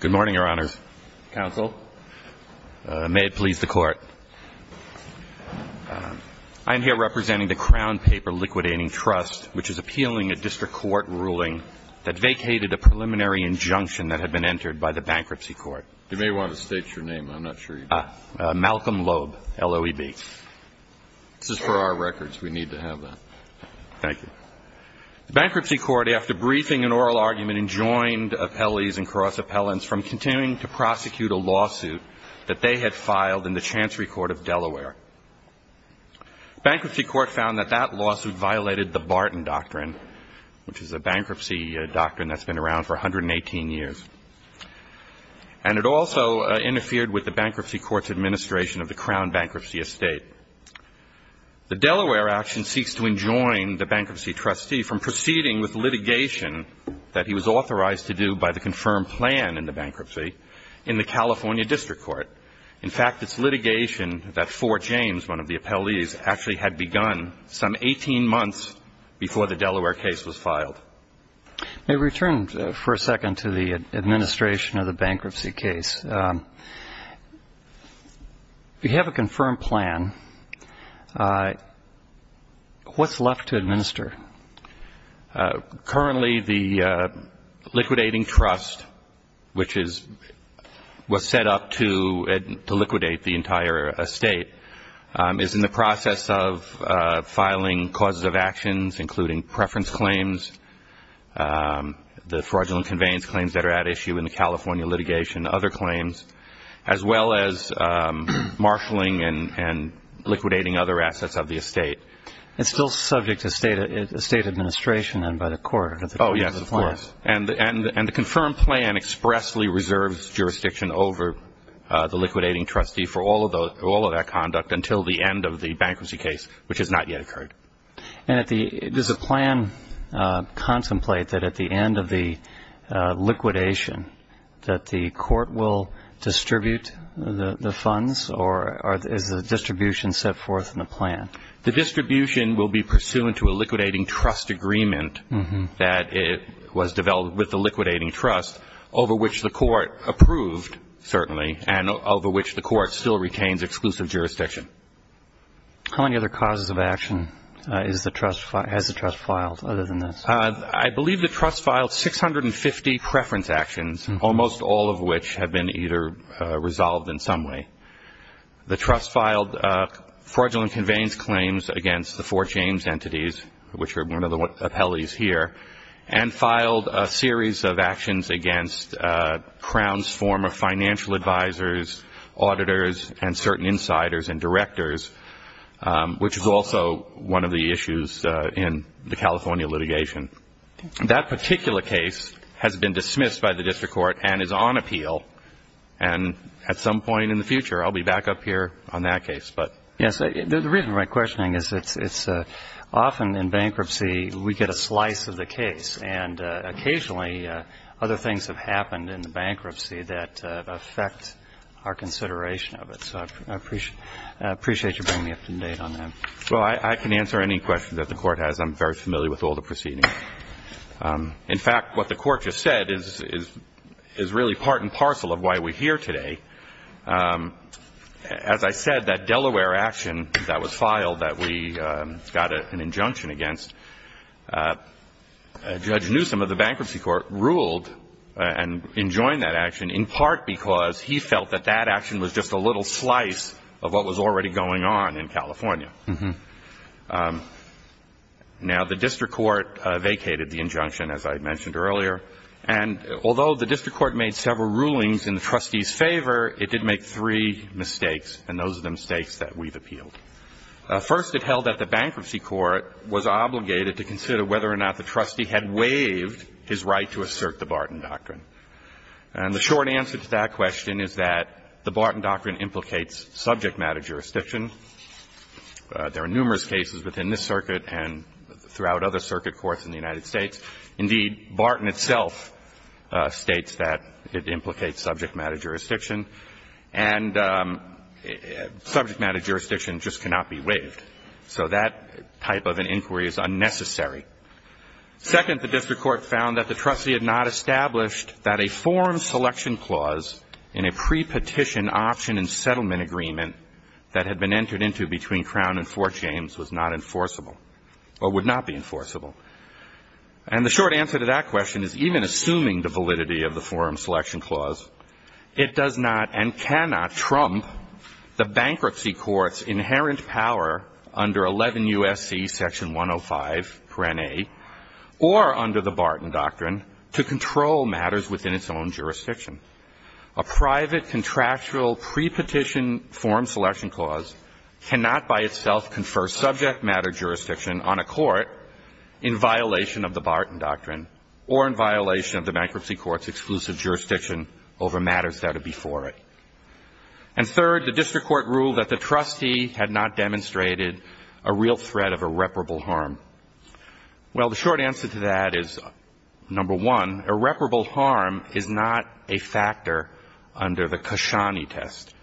Good morning, Your Honors. Counsel. May it please the Court. I am here representing the Crown Paper Liquidating Trust, which is appealing a district court ruling that vacated a preliminary injunction that had been entered by the Bankruptcy Court. You may want to state your name. I'm not sure you do. Malcolm Loeb, L-O-E-B. This is for our records. We need to have that. Thank you. The Bankruptcy Court, after briefing an oral argument, enjoined appellees and cross-appellants from continuing to prosecute a lawsuit that they had filed in the Chancery Court of Delaware. The Bankruptcy Court found that that lawsuit violated the Barton Doctrine, which is a bankruptcy doctrine that's been around for 118 years. And it also interfered with the Bankruptcy Court's administration of the Crown Bankruptcy Estate. The Delaware action seeks to enjoin the bankruptcy trustee from proceeding with litigation that he was authorized to do by the confirmed plan in the bankruptcy in the California District Court. In fact, it's litigation that Fort James, one of the appellees, actually had begun some 18 months before the Delaware case was filed. May we turn for a second to the administration of the bankruptcy case? Yes. We have a confirmed plan. What's left to administer? Currently, the liquidating trust, which was set up to liquidate the entire estate, is in the process of filing causes of actions, including preference claims, the fraudulent conveyance claims that are at issue in the California litigation, other claims, as well as marshaling and liquidating other assets of the estate. It's still subject to state administration and by the court. Yes, of course. And the confirmed plan expressly reserves jurisdiction over the liquidating trustee for all of that conduct until the end of the bankruptcy case, which has not yet occurred. And does the plan contemplate that at the end of the liquidation that the court will distribute the funds, or is the distribution set forth in the plan? The distribution will be pursuant to a liquidating trust agreement that was developed with the liquidating trust, over which the court approved, certainly, and over which the court still retains exclusive jurisdiction. How many other causes of action has the trust filed other than this? I believe the trust filed 650 preference actions, almost all of which have been either resolved in some way. The trust filed fraudulent conveyance claims against the Fort James entities, which are one of the appellees here, and filed a series of actions against Crown's former financial advisors, auditors, and certain insiders and directors, which is also one of the issues in the California litigation. That particular case has been dismissed by the district court and is on appeal, and at some point in the future I'll be back up here on that case. Yes, the reason for my questioning is it's often in bankruptcy we get a slice of the case, and occasionally other things have happened in the bankruptcy that affect our consideration of it. So I appreciate you bringing me up to date on that. Well, I can answer any question that the court has. I'm very familiar with all the proceedings. In fact, what the court just said is really part and parcel of why we're here today. As I said, that Delaware action that was filed that we got an injunction against, Judge Newsom of the Bankruptcy Court ruled and enjoined that action, in part because he felt that that action was just a little slice of what was already going on in California. Now, the district court vacated the injunction, as I mentioned earlier, and although the district court made several rulings in the trustees' favor, it did make three mistakes, and those are the mistakes that we've appealed. First, it held that the Bankruptcy Court was obligated to consider whether or not the trustee had waived his right to assert the Barton Doctrine. And the short answer to that question is that the Barton Doctrine implicates subject matter jurisdiction. There are numerous cases within this circuit and throughout other circuit courts in the United States. Indeed, Barton itself states that it implicates subject matter jurisdiction, and subject matter jurisdiction just cannot be waived. So that type of an inquiry is unnecessary. Second, the district court found that the trustee had not established that a forum selection clause in a pre-petition option and settlement agreement that had been entered into between Crown and Fort James was not enforceable or would not be enforceable. And the short answer to that question is, even assuming the validity of the forum selection clause, it does not and cannot trump the Bankruptcy Court's inherent power under 11 U.S.C. Section 105, or under the Barton Doctrine, to control matters within its own jurisdiction. A private contractual pre-petition forum selection clause cannot by itself confer subject matter jurisdiction on a court in violation of the Barton Doctrine or in violation of the Bankruptcy Court's exclusive jurisdiction over matters that are before it. And third, the district court ruled that the trustee had not demonstrated a real threat of irreparable harm. Well, the short answer to that is, number one, irreparable harm is not a factor under the Kashani test.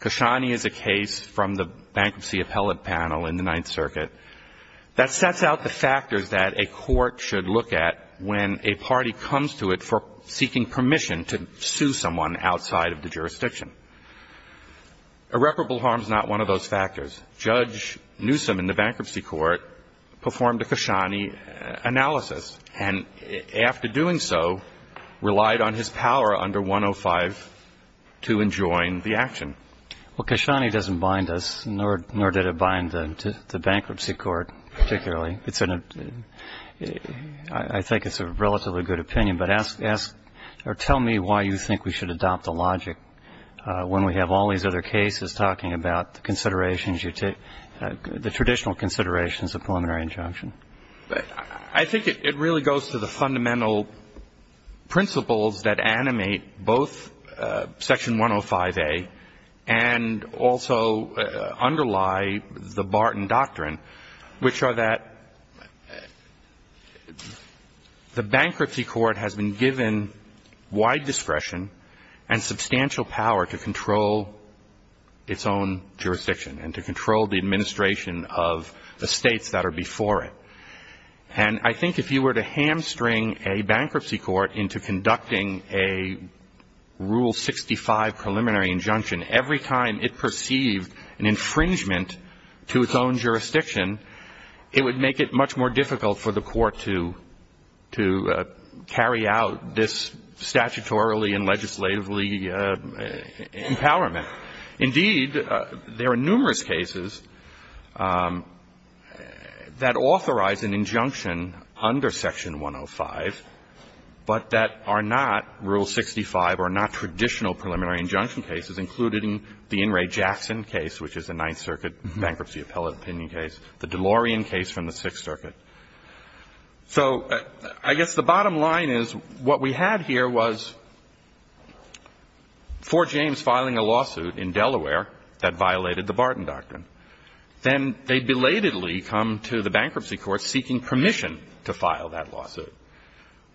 Kashani is a case from the Bankruptcy Appellate Panel in the Ninth Circuit that sets out the factors that a court should look at when a party comes to it for seeking permission to sue someone outside of the jurisdiction. Irreparable harm is not one of those factors. Judge Newsom in the Bankruptcy Court performed a Kashani analysis and, after doing so, relied on his power under 105 to enjoin the action. Well, Kashani doesn't bind us, nor did it bind the Bankruptcy Court particularly. It's an – I think it's a relatively good opinion, but ask – or tell me why you think we should adopt the logic when we have all these other cases talking about the considerations you take – the traditional considerations of preliminary injunction. I think it really goes to the fundamental principles that animate both Section 105A and also underlie the Barton Doctrine, which are that the Bankruptcy Court has been given wide discretion and substantial power to control its own jurisdiction and to control the administration of the states that are before it. And I think if you were to hamstring a Bankruptcy Court into conducting a Rule 65 preliminary injunction every time it perceived an infringement to its own jurisdiction, it would make it much more difficult for the Court to – to carry out this statutorily and legislatively empowerment. Indeed, there are numerous cases that authorize an injunction under Section 105, but that are not Rule 65 or not traditional preliminary injunction cases, including the In re Jackson case, which is a Ninth Circuit bankruptcy appellate opinion case, the DeLorean case from the Sixth Circuit. So I guess the bottom line is what we had here was Fort James filing a lawsuit in Delaware that violated the Barton Doctrine. Then they belatedly come to the Bankruptcy Court seeking permission to file that lawsuit.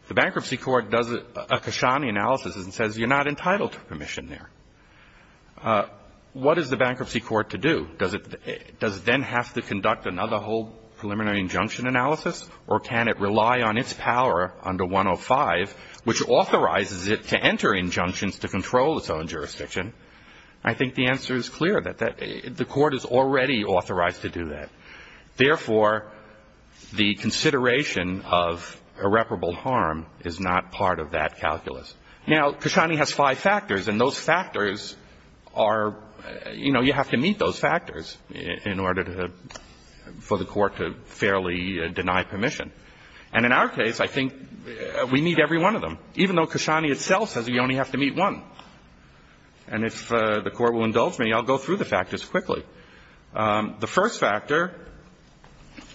The Bankruptcy Court does a Kashani analysis and says you're not entitled to permission there. What is the Bankruptcy Court to do? Does it – does it then have to conduct another whole preliminary injunction analysis, or can it rely on its power under 105, which authorizes it to enter injunctions to control its own jurisdiction? I think the answer is clear, that that – the Court is already authorized to do that. Therefore, the consideration of irreparable harm is not part of that calculus. Now, Kashani has five factors, and those factors are – you know, you have to meet those factors in order to – for the Court to fairly deny permission. And in our case, I think we need every one of them, even though Kashani itself says we only have to meet one. And if the Court will indulge me, I'll go through the factors quickly. The first factor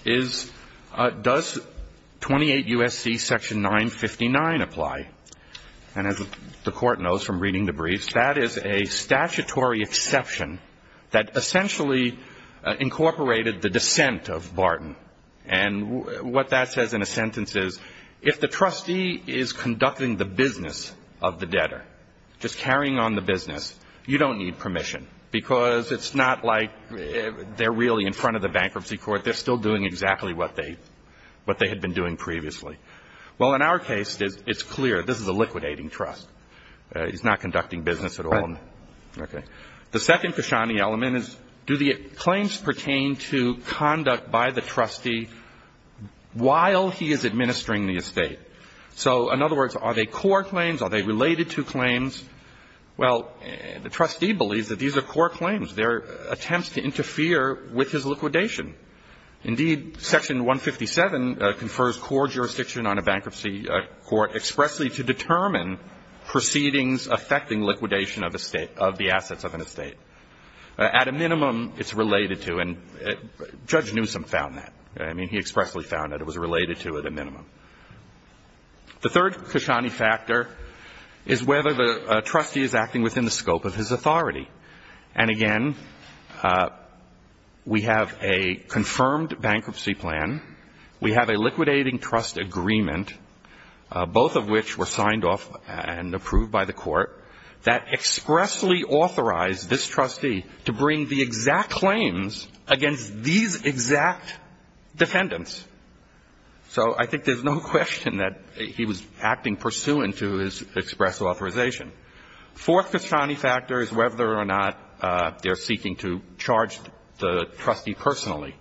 is, does 28 U.S.C. section 959 apply? And as the Court knows from reading the briefs, that is a statutory exception that essentially incorporated the dissent of Barton. And what that says in a sentence is, if the trustee is conducting the business of the debtor, just carrying on the business, you don't need permission, because it's not like they're really in front of the bankruptcy court. They're still doing exactly what they – what they had been doing previously. Well, in our case, it's clear. This is a liquidating trust. It's not conducting business at all. Right. Okay. The second Kashani element is, do the claims pertain to conduct by the trustee while he is administering the estate? So, in other words, are they core claims? Are they related to claims? Well, the trustee believes that these are core claims. They're attempts to interfere with his liquidation. Indeed, section 157 confers core jurisdiction on a bankruptcy court expressly to determine proceedings affecting liquidation of the assets of an estate. At a minimum, it's related to, and Judge Newsom found that. I mean, he expressly found that it was related to at a minimum. The third Kashani factor is whether the trustee is acting within the scope of his authority. And, again, we have a confirmed bankruptcy plan. We have a liquidating trust agreement, both of which were signed off and approved by the court. That expressly authorized this trustee to bring the exact claims against these exact defendants. So I think there's no question that he was acting pursuant to his express authorization. Fourth Kashani factor is whether or not they're seeking to charge the trustee personally.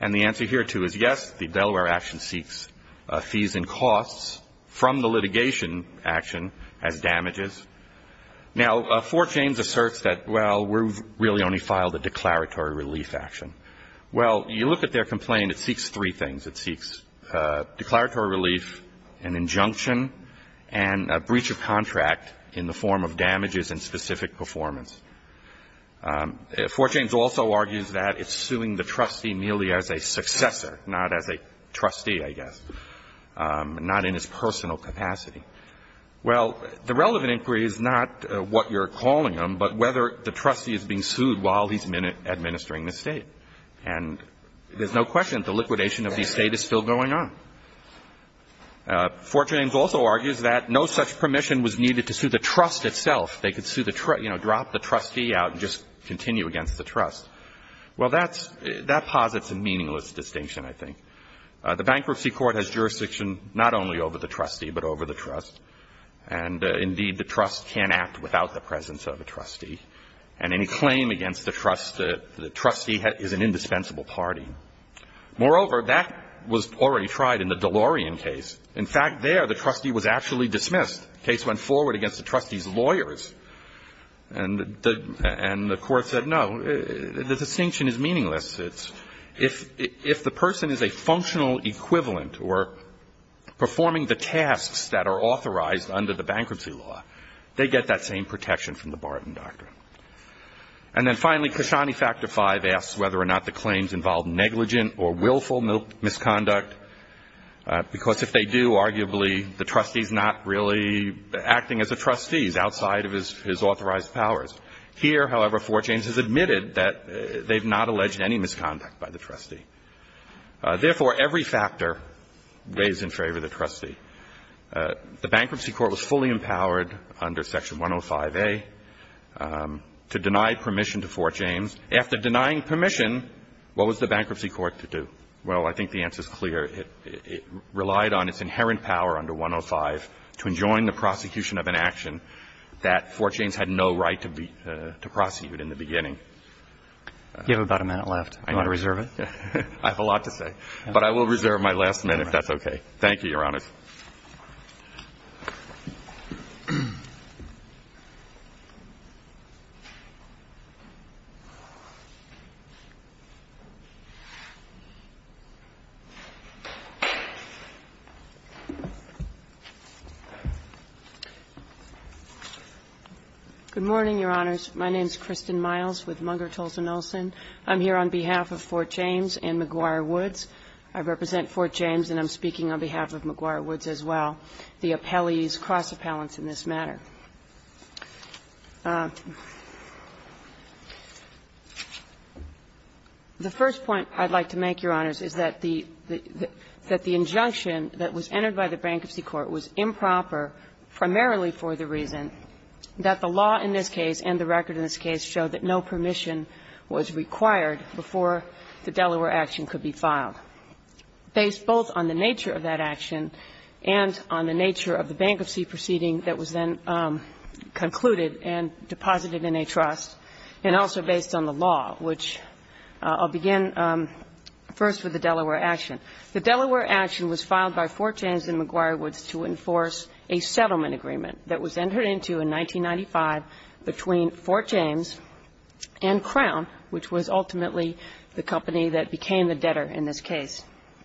And the answer here, too, is yes, the Delaware action seeks fees and costs from the litigation action as damages. Now, Fort James asserts that, well, we've really only filed a declaratory relief action. Well, you look at their complaint, it seeks three things. It seeks declaratory relief, an injunction, and a breach of contract in the form of damages and specific performance. Fort James also argues that it's suing the trustee merely as a successor, not as a trustee, I guess, not in his personal capacity. Well, the relevant inquiry is not what you're calling them, but whether the trustee is being sued while he's administering the state. And there's no question that the liquidation of the estate is still going on. Fort James also argues that no such permission was needed to sue the trust itself. They could sue the trust, you know, drop the trustee out and just continue against the trust. Well, that's – that posits a meaningless distinction, I think. The Bankruptcy Court has jurisdiction not only over the trustee, but over the trust. And, indeed, the trust can't act without the presence of a trustee. And any claim against the trust, the trustee is an indispensable party. Moreover, that was already tried in the DeLorean case. In fact, there the trustee was actually dismissed. The case went forward against the trustee's lawyers. And the court said, no, the distinction is meaningless. It's – if the person is a functional equivalent or performing the tasks that are authorized under the bankruptcy law, they get that same protection from the Barton Doctrine. And then, finally, Kashani Factor V asks whether or not the claims involve negligent or willful misconduct, because if they do, arguably the trustee's not really acting as a trustee outside of his authorized powers. Here, however, Fort James has admitted that they've not alleged any misconduct by the trustee. Therefore, every factor weighs in favor of the trustee. The Bankruptcy Court was fully empowered under Section 105A to deny permission to Fort James. After denying permission, what was the Bankruptcy Court to do? Well, I think the answer is clear. It relied on its inherent power under 105 to enjoin the prosecution of an action that Fort James had no right to prosecute in the beginning. You have about a minute left. Do you want to reserve it? I have a lot to say. But I will reserve my last minute, if that's okay. Thank you, Your Honor. Good morning, Your Honors. My name is Kristen Miles with Munger, Tolson, Olson. I'm here on behalf of Fort James and McGuire Woods. I represent Fort James and I'm speaking on behalf of McGuire Woods as well, the appellees, cross-appellants in this matter. The first point I'd like to make, Your Honors, is that the injunction that was entered by the Bankruptcy Court was improper primarily for the reason that the law in this case, based both on the nature of that action and on the nature of the bankruptcy proceeding that was then concluded and deposited in a trust, and also based on the law, which I'll begin first with the Delaware action. The Delaware action was filed by Fort James and McGuire Woods to enforce a settlement agreement that was entered into in 1995 between Fort James and Crown, which was ultimately the company that became the debtor in this case.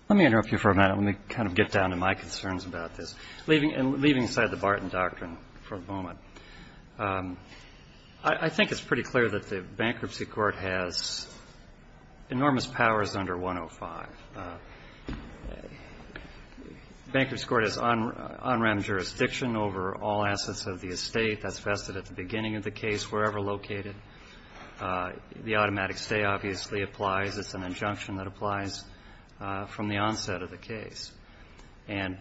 Let me interrupt you for a minute. Let me kind of get down to my concerns about this, leaving aside the Barton Doctrine for a moment. I think it's pretty clear that the Bankruptcy Court has enormous powers under 105. The Bankruptcy Court has on-ramp jurisdiction over all assets of the estate. That's vested at the beginning of the case, wherever located. The automatic stay obviously applies. It's an injunction that applies from the onset of the case. And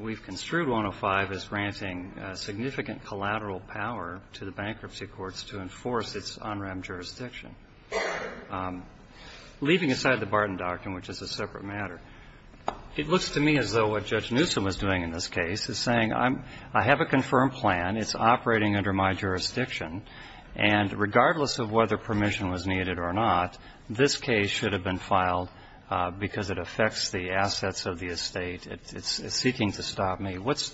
we've construed 105 as granting significant collateral power to the Bankruptcy Courts to enforce its on-ramp jurisdiction. Leaving aside the Barton Doctrine, which is a separate matter, it looks to me as though what Judge Newsom is doing in this case is saying, I have a confirmed plan, it's operating under my jurisdiction, and regardless of whether permission was needed or not, this case should have been filed because it affects the assets of the estate. It's seeking to stop me. What's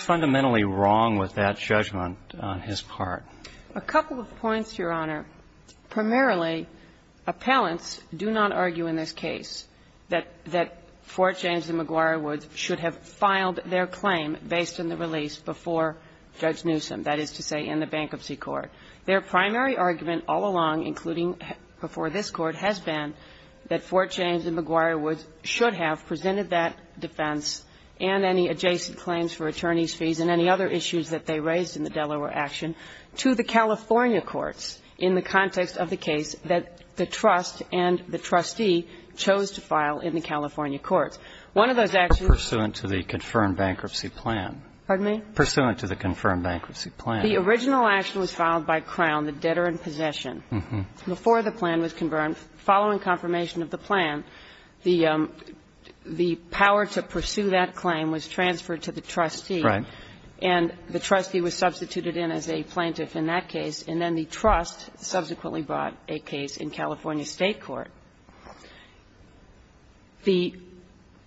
fundamentally wrong with that judgment on his part? A couple of points, Your Honor. Primarily, appellants do not argue in this case that Fort James and McGuire Woods should have filed their claim based on the release before Judge Newsom, that is to say in the Bankruptcy Court. Their primary argument all along, including before this Court, has been that Fort James and McGuire Woods should have presented that defense and any adjacent claims for attorneys' fees and any other issues that they raised in the Delaware action to the California courts in the context of the case that the trust and the trustee chose to file in the California courts. One of those actions Pursuant to the confirmed bankruptcy plan. Pardon me? Pursuant to the confirmed bankruptcy plan. The original action was filed by Crown, the debtor in possession. Before the plan was confirmed, following confirmation of the plan, the power to pursue that claim was transferred to the trustee. Right. And the trustee was substituted in as a plaintiff in that case, and then the trust subsequently brought a case in California State court. The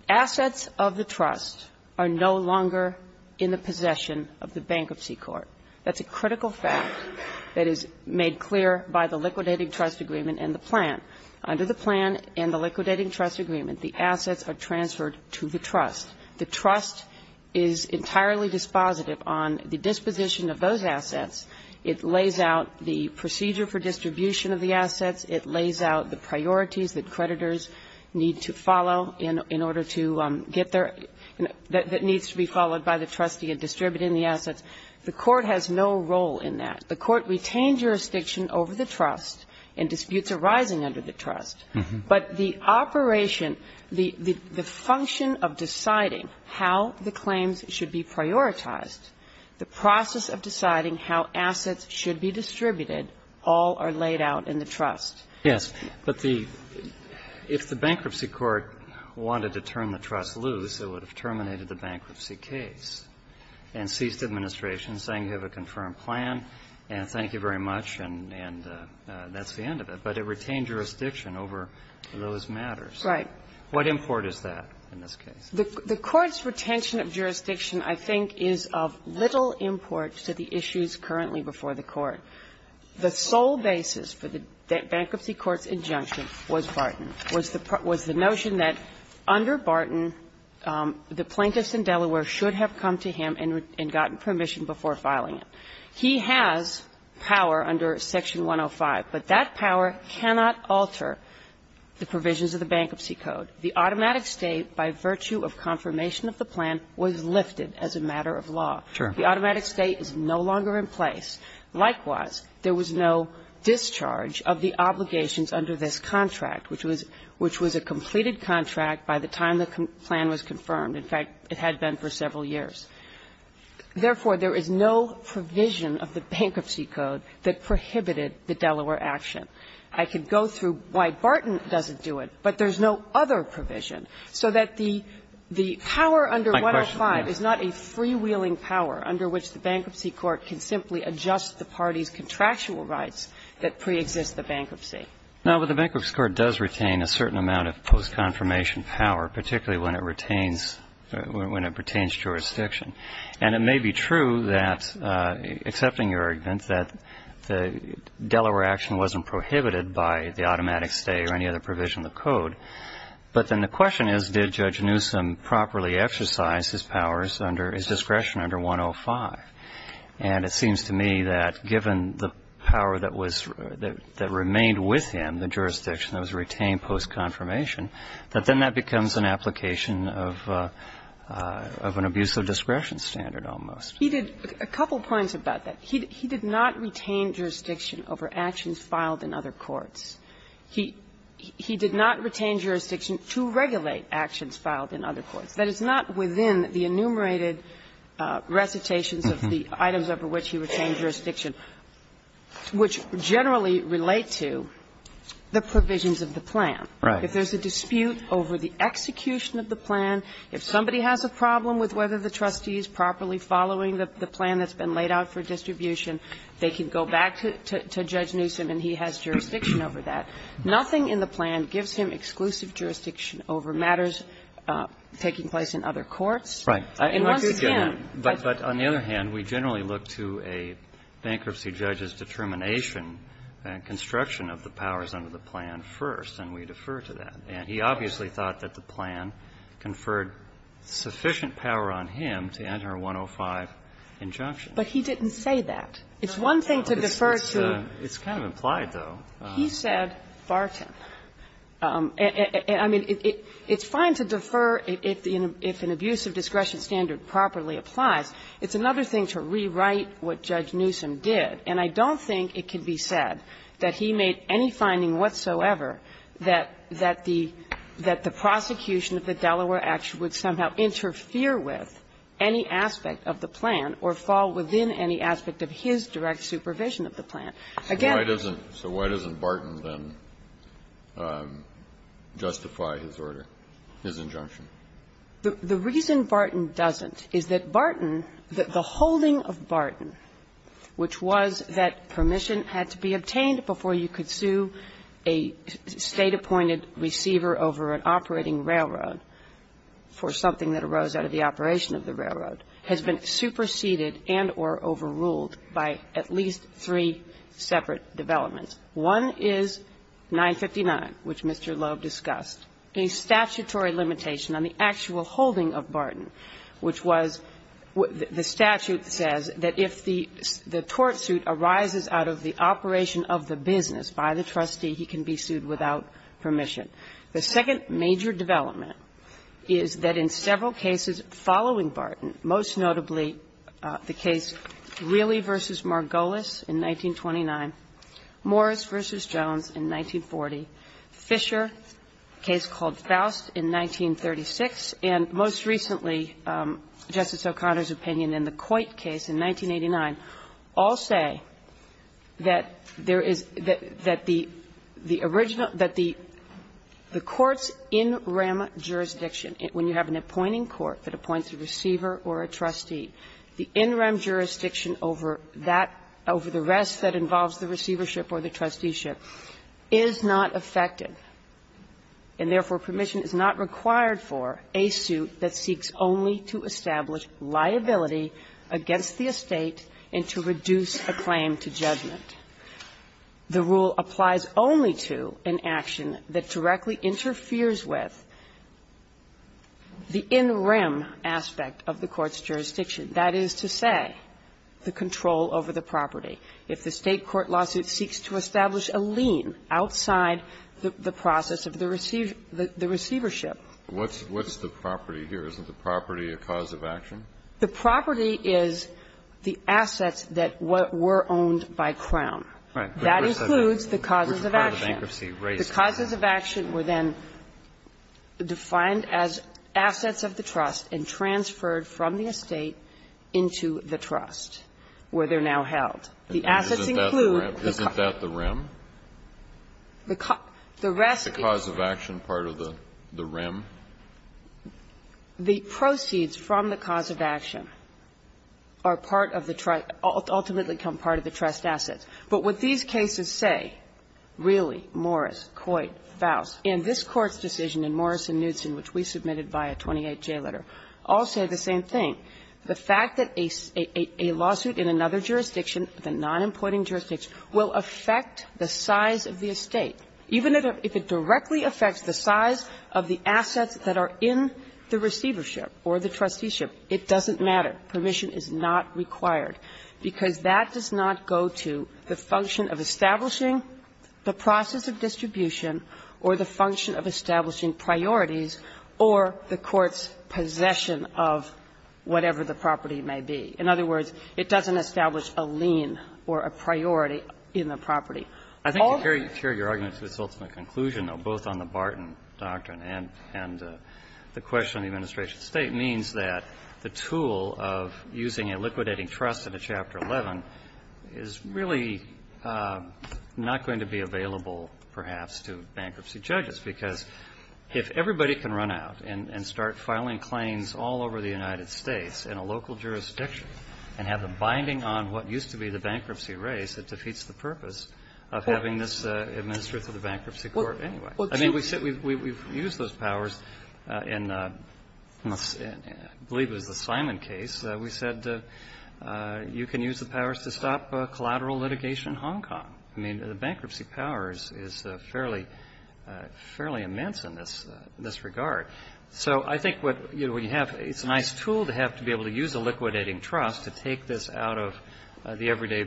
assets of the trust are no longer in the possession of the Bankruptcy Court. That's a critical fact that is made clear by the liquidating trust agreement and the plan. Under the plan and the liquidating trust agreement, the assets are transferred to the trust. The trust is entirely dispositive on the disposition of those assets. It lays out the procedure for distribution of the assets. It lays out the priorities that creditors need to follow in order to get their that needs to be followed by the trustee in distributing the assets. The court has no role in that. The court retains jurisdiction over the trust and disputes arising under the trust. But the operation, the function of deciding how the claims should be prioritized, the process of deciding how assets should be distributed, all are laid out in the trust. Yes, but the – if the Bankruptcy Court wanted to turn the trust loose, it would have terminated the bankruptcy case and ceased administration, saying you have a confirmed plan, and thank you very much, and that's the end of it. But it retained jurisdiction over those matters. Right. What import is that in this case? The Court's retention of jurisdiction, I think, is of little import to the issues currently before the Court. The sole basis for the Bankruptcy Court's injunction was Barton, was the notion that under Barton, the plaintiffs in Delaware should have come to him and gotten permission before filing it. He has power under Section 105, but that power cannot alter the provisions of the Bankruptcy Code. The automatic state, by virtue of confirmation of the plan, was lifted as a matter Sure. The automatic state is no longer in place. Likewise, there was no discharge of the obligations under this contract, which was – which was a completed contract by the time the plan was confirmed. In fact, it had been for several years. Therefore, there is no provision of the Bankruptcy Code that prohibited the Delaware action. I could go through why Barton doesn't do it, but there's no other provision. So that the – the power under 105 is not a freewheeling power under which the Bankruptcy Court can simply adjust the party's contractual rights that preexist the bankruptcy. Now, but the Bankruptcy Court does retain a certain amount of post-confirmation power, particularly when it retains – when it retains jurisdiction. And it may be true that, accepting your argument, that the Delaware action wasn't prohibited by the automatic state or any other provision of the Code. But then the question is, did Judge Newsom properly exercise his powers under – his And it seems to me that, given the power that was – that remained with him, the jurisdiction that was retained post-confirmation, that then that becomes an application of an abuse of discretion standard almost. He did – a couple points about that. He did not retain jurisdiction over actions filed in other courts. He did not retain jurisdiction to regulate actions filed in other courts. That is not within the enumerated recitations of the items over which he retained jurisdiction, which generally relate to the provisions of the plan. Right. If there's a dispute over the execution of the plan, if somebody has a problem with whether the trustee is properly following the plan that's been laid out for distribution, they can go back to Judge Newsom and he has jurisdiction over that. Nothing in the plan gives him exclusive jurisdiction over matters taking place in other courts. Right. And once again, but – But on the other hand, we generally look to a bankruptcy judge's determination and construction of the powers under the plan first, and we defer to that. And he obviously thought that the plan conferred sufficient power on him to enter 105 injunction. But he didn't say that. It's one thing to defer to – It's kind of implied, though. He said Fartin. I mean, it's fine to defer if an abuse of discretion standard properly applies. It's another thing to rewrite what Judge Newsom did. And I don't think it can be said that he made any finding whatsoever that the prosecution of the Delaware action would somehow interfere with any aspect of the plan or fall within any aspect of his direct supervision of the plan. Again – So why doesn't Barton then justify his order, his injunction? The reason Barton doesn't is that Barton, the holding of Barton, which was that permission had to be obtained before you could sue a State-appointed receiver over an operating railroad for something that arose out of the operation of the railroad, has been superseded and or overruled by at least three separate developments. One is 959, which Mr. Loeb discussed, a statutory limitation on the actual holding of Barton, which was the statute says that if the tort suit arises out of the operation of the business by the trustee, he can be sued without permission. The second major development is that in several cases following Barton, most notably the case Realey v. Margolis in 1929, Morris v. Jones in 1940, Fisher, a case called Faust in 1936, and most recently Justice O'Connor's opinion in the Coit case in 1989, all say that there is – that the original – that the original case of the Coit case, the Court's in rem jurisdiction, when you have an appointing court that appoints a receiver or a trustee, the in rem jurisdiction over that – over the rest that involves the receivership or the trusteeship, is not effective, and therefore permission is not required for a suit that seeks only to establish liability against the estate and to reduce a claim to judgment. The rule applies only to an action that directly interferes with the in rem aspect of the Court's jurisdiction, that is to say, the control over the property. If the State court lawsuit seeks to establish a lien outside the process of the receiver – the receivership. What's the property here? Isn't the property a cause of action? The property is the assets that were owned by Crown. That includes the causes of action. The causes of action were then defined as assets of the trust and transferred from the estate into the trust, where they're now held. The assets include the costs of action, the proceeds from the cause of action, are part of the – ultimately become part of the trust assets. But what these cases say, really, Morris, Coit, Faust, and this Court's decision in Morris and Knudsen, which we submitted by a 28-J letter, all say the same thing. The fact that a lawsuit in another jurisdiction, the non-appointing jurisdiction, will affect the size of the estate, even if it directly affects the size of the assets that are in the receivership or the trusteeship, it doesn't matter. Permission is not required, because that does not go to the function of establishing the process of distribution or the function of establishing priorities or the Court's possession of whatever the property may be. In other words, it doesn't establish a lien or a priority in the property. All of them do. And the question on the administration of the State means that the tool of using a liquidating trust in a Chapter 11 is really not going to be available, perhaps, to bankruptcy judges. Because if everybody can run out and start filing claims all over the United States in a local jurisdiction and have them binding on what used to be the bankruptcy race, it defeats the purpose of having this administered to the Bankruptcy Court anyway. I mean, we've used those powers in, I believe it was the Simon case, we said you can use the powers to stop collateral litigation in Hong Kong. I mean, the bankruptcy powers is fairly immense in this regard. So I think what you have, it's a nice tool to have to be able to use a liquidating trust to take this out of the everyday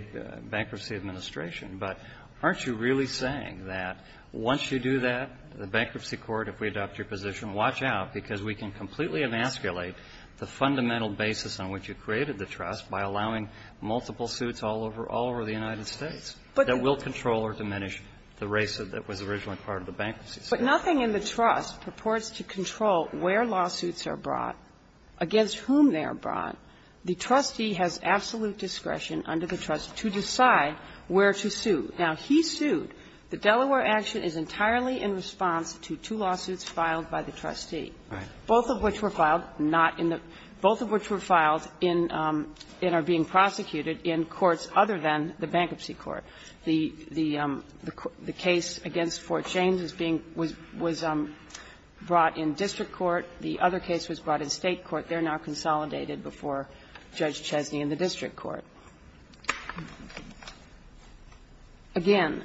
bankruptcy administration. But aren't you really saying that once you do that, the Bankruptcy Court, if we adopt your position, watch out, because we can completely emasculate the fundamental basis on which you created the trust by allowing multiple suits all over the United States that will control or diminish the race that was originally part of the bankruptcy system. But nothing in the trust purports to control where lawsuits are brought, against whom they are brought. The trustee has absolute discretion under the trust to decide where to sue. Now, he sued. The Delaware action is entirely in response to two lawsuits filed by the trustee. Both of which were filed not in the – both of which were filed in – and are being prosecuted in courts other than the Bankruptcy Court. The case against Fort James is being – was brought in district court. The other case was brought in State court. They're now consolidated before Judge Chesney in the district court. Again,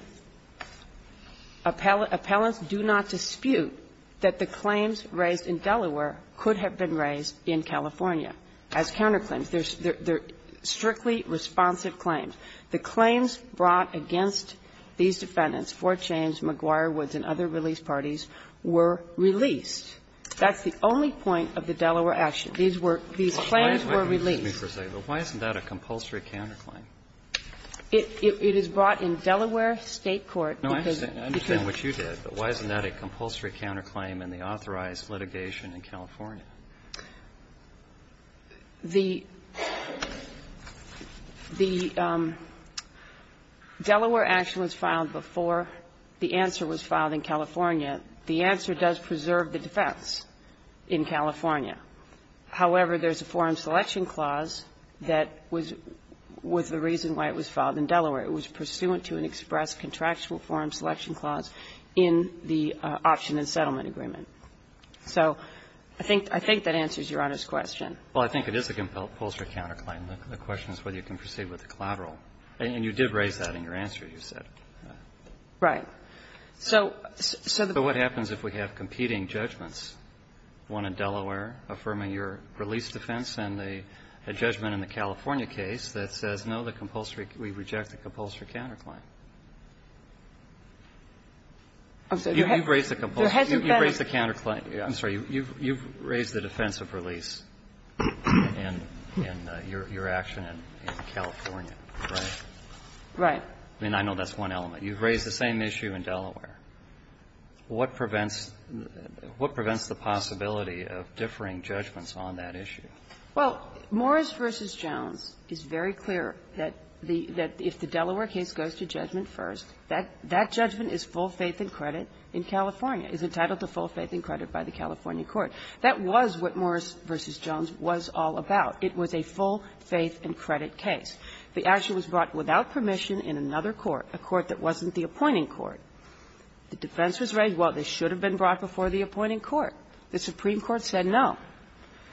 appellants do not dispute that the claims raised in Delaware could have been raised in California as counterclaims. They're strictly responsive claims. The claims brought against these defendants, Fort James, McGuire, Woods, and other release parties, were released. That's the only point of the Delaware action. These were – these claims were released. But why isn't that a compulsory counterclaim? It is brought in Delaware State court because – No, I understand what you did. But why isn't that a compulsory counterclaim in the authorized litigation in California? The Delaware action was filed before the answer was filed in California. The answer does preserve the defense in California. However, there's a forum selection clause that was – was the reason why it was filed in Delaware. It was pursuant to an express contractual forum selection clause in the option and settlement agreement. So I think – I think that answers Your Honor's question. Well, I think it is a compulsory counterclaim. The question is whether you can proceed with the collateral. And you did raise that in your answer, you said. Right. So the point is that you can't proceed with the compulsory counterclaim in California. So what happens if we have competing judgments, one in Delaware affirming your release defense and a judgment in the California case that says, no, the compulsory – we reject the compulsory counterclaim? You've raised the compulsory – you've raised the counterclaim – I'm sorry. You've raised the defense of release in your action in California, right? So what happens if we have an issue in Delaware? What prevents – what prevents the possibility of differing judgments on that issue? Well, Morris v. Jones is very clear that the – that if the Delaware case goes to judgment first, that – that judgment is full faith and credit in California, is entitled to full faith and credit by the California court. That was what Morris v. Jones was all about. It was a full faith and credit case. The action was brought without permission in another court, a court that wasn't the appointing court. The defense was raised, well, this should have been brought before the appointing court. The Supreme Court said no.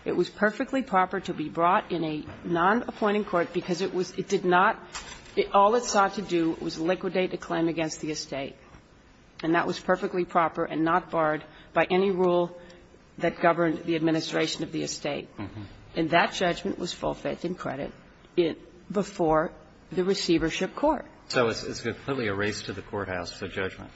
It was perfectly proper to be brought in a non-appointing court because it was – it did not – all it sought to do was liquidate a claim against the estate. And that was perfectly proper and not barred by any rule that governed the administration of the estate. And that judgment was full faith and credit. It – before the receivership court. So it's completely a race to the courthouse for judgment.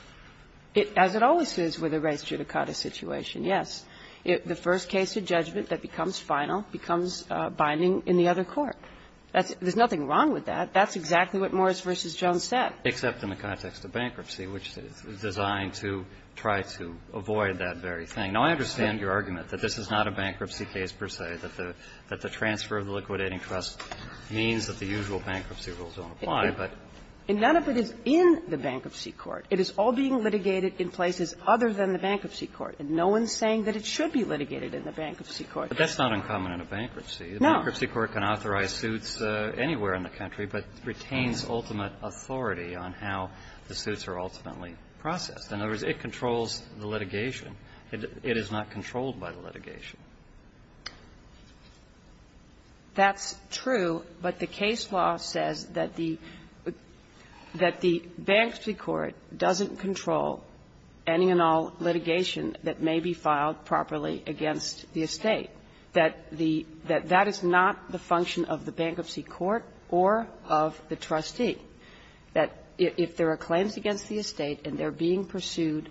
It – as it always is with a race judicata situation, yes. The first case of judgment that becomes final becomes binding in the other court. That's – there's nothing wrong with that. That's exactly what Morris v. Jones said. Except in the context of bankruptcy, which is designed to try to avoid that very thing. Now, I understand your argument that this is not a bankruptcy case, per se, that the transfer of the liquidating trust means that the usual bankruptcy rules don't apply, but – And none of it is in the bankruptcy court. It is all being litigated in places other than the bankruptcy court. And no one's saying that it should be litigated in the bankruptcy court. But that's not uncommon in a bankruptcy. No. The bankruptcy court can authorize suits anywhere in the country, but retains ultimate authority on how the suits are ultimately processed. In other words, it controls the litigation. It is not controlled by the litigation. That's true, but the case law says that the – that the bankruptcy court doesn't control any and all litigation that may be filed properly against the estate. That the – that that is not the function of the bankruptcy court or of the trustee. That if there are claims against the estate and they're being pursued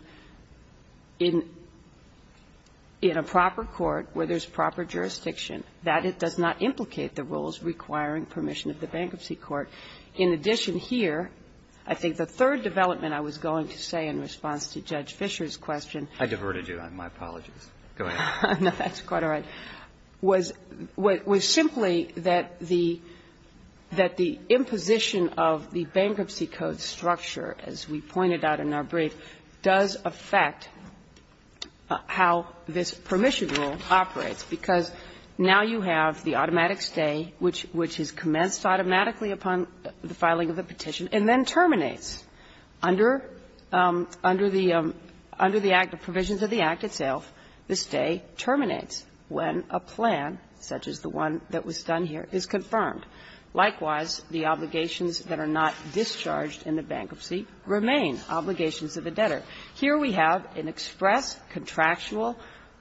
in – in a proper court where there's proper jurisdiction, that it does not implicate the rules requiring permission of the bankruptcy court. In addition here, I think the third development I was going to say in response to Judge Fischer's question – I diverted you. My apologies. Go ahead. No, that's quite all right. Was – was simply that the – that the imposition of the bankruptcy code structure, as we pointed out in our brief, does affect how this permission rule operates. Because now you have the automatic stay, which – which is commenced automatically upon the filing of the petition and then terminates under – under the – under the provisions of the Act itself. The stay terminates when a plan, such as the one that was done here, is confirmed. Likewise, the obligations that are not discharged in the bankruptcy remain obligations of the debtor. Here we have an express contractual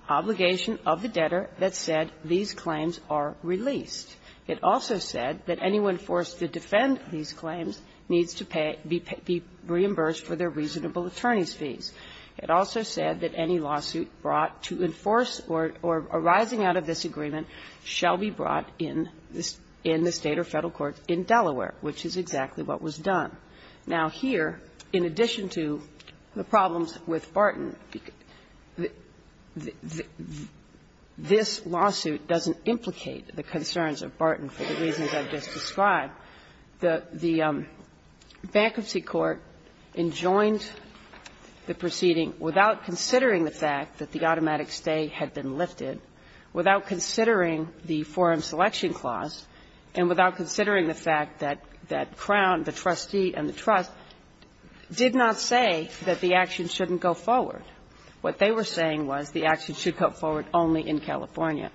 obligation of the debtor that said these claims are released. It also said that anyone forced to defend these claims needs to pay – be reimbursed for their reasonable attorney's fees. It also said that any lawsuit brought to enforce or – or arising out of this agreement shall be brought in this – in the State or Federal courts in Delaware, which is exactly what was done. Now, here, in addition to the problems with Barton, this lawsuit doesn't implicate the concerns of Barton for the reasons I've just described. The – the bankruptcy court enjoined the proceeding without considering the fact that the automatic stay had been lifted, without considering the forum selection clause, and without considering the fact that – that Crown, the trustee and the trust, did not say that the action shouldn't go forward. What they were saying was the action should go forward only in California.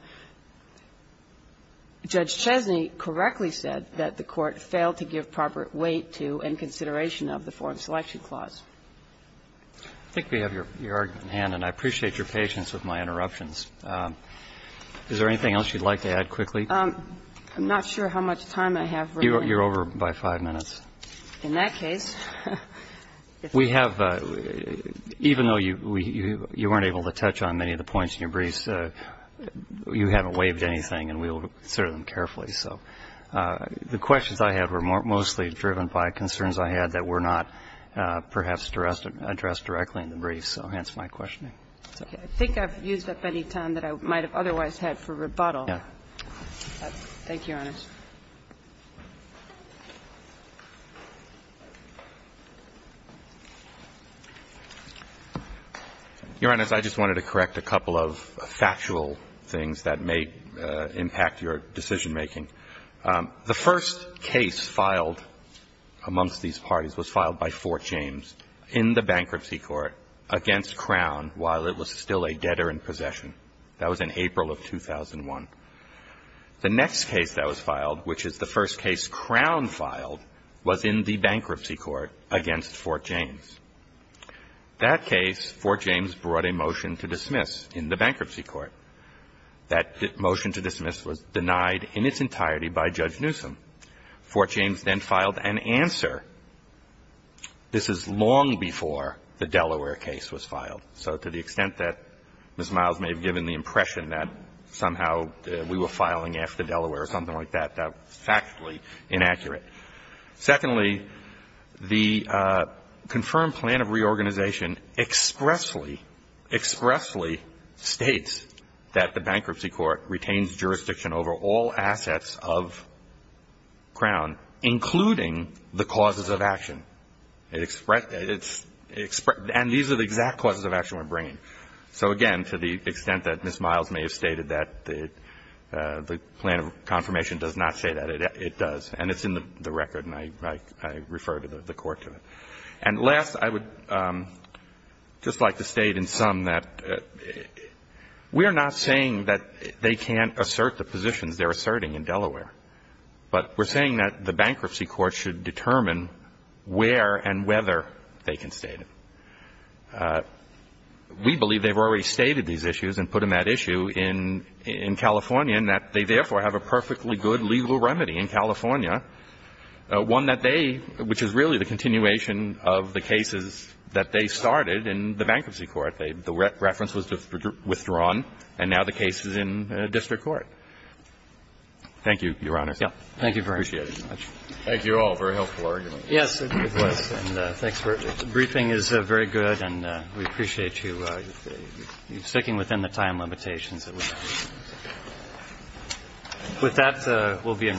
Judge Chesney correctly said that the Court failed to give proper weight to and consideration of the forum selection clause. I think we have your argument in hand, and I appreciate your patience with my interruptions. Is there anything else you'd like to add quickly? I'm not sure how much time I have remaining. You're over by 5 minutes. In that case, if we could. We have – even though you weren't able to touch on many of the points in your briefs, you haven't waived anything, and we will consider them carefully. So the questions I had were mostly driven by concerns I had that were not perhaps addressed directly in the briefs, so hence my questioning. I think I've used up any time that I might have otherwise had for rebuttal. Thank you, Your Honor. Your Honor, I just wanted to correct a couple of factual things that may impact your decision-making. The first case filed amongst these parties was filed by Fort James. In the bankruptcy court against Crown while it was still a debtor in possession. That was in April of 2001. The next case that was filed, which is the first case Crown filed, was in the bankruptcy court against Fort James. That case, Fort James brought a motion to dismiss in the bankruptcy court. That motion to dismiss was denied in its entirety by Judge Newsom. Fort James then filed an answer. This is long before the Delaware case was filed. So to the extent that Ms. Miles may have given the impression that somehow we were filing after Delaware or something like that, that's factually inaccurate. Secondly, the confirmed plan of reorganization expressly, expressly states that the And these are the exact clauses of action we're bringing. So again, to the extent that Ms. Miles may have stated that the plan of confirmation does not say that, it does. And it's in the record, and I refer the Court to it. And last, I would just like to state in sum that we are not saying that they can't assert the positions they're asserting in Delaware. But we're saying that the bankruptcy court should determine where and whether they can state it. We believe they've already stated these issues and put them at issue in California and that they therefore have a perfectly good legal remedy in California, one that they, which is really the continuation of the cases that they started in the bankruptcy court. The reference was withdrawn, and now the case is in district court. Thank you, Your Honor. Thank you very much. Thank you all. Very helpful argument. Yes, it was. And thanks for it. The briefing is very good, and we appreciate you sticking within the time limitations that we have. With that, we'll be in recess.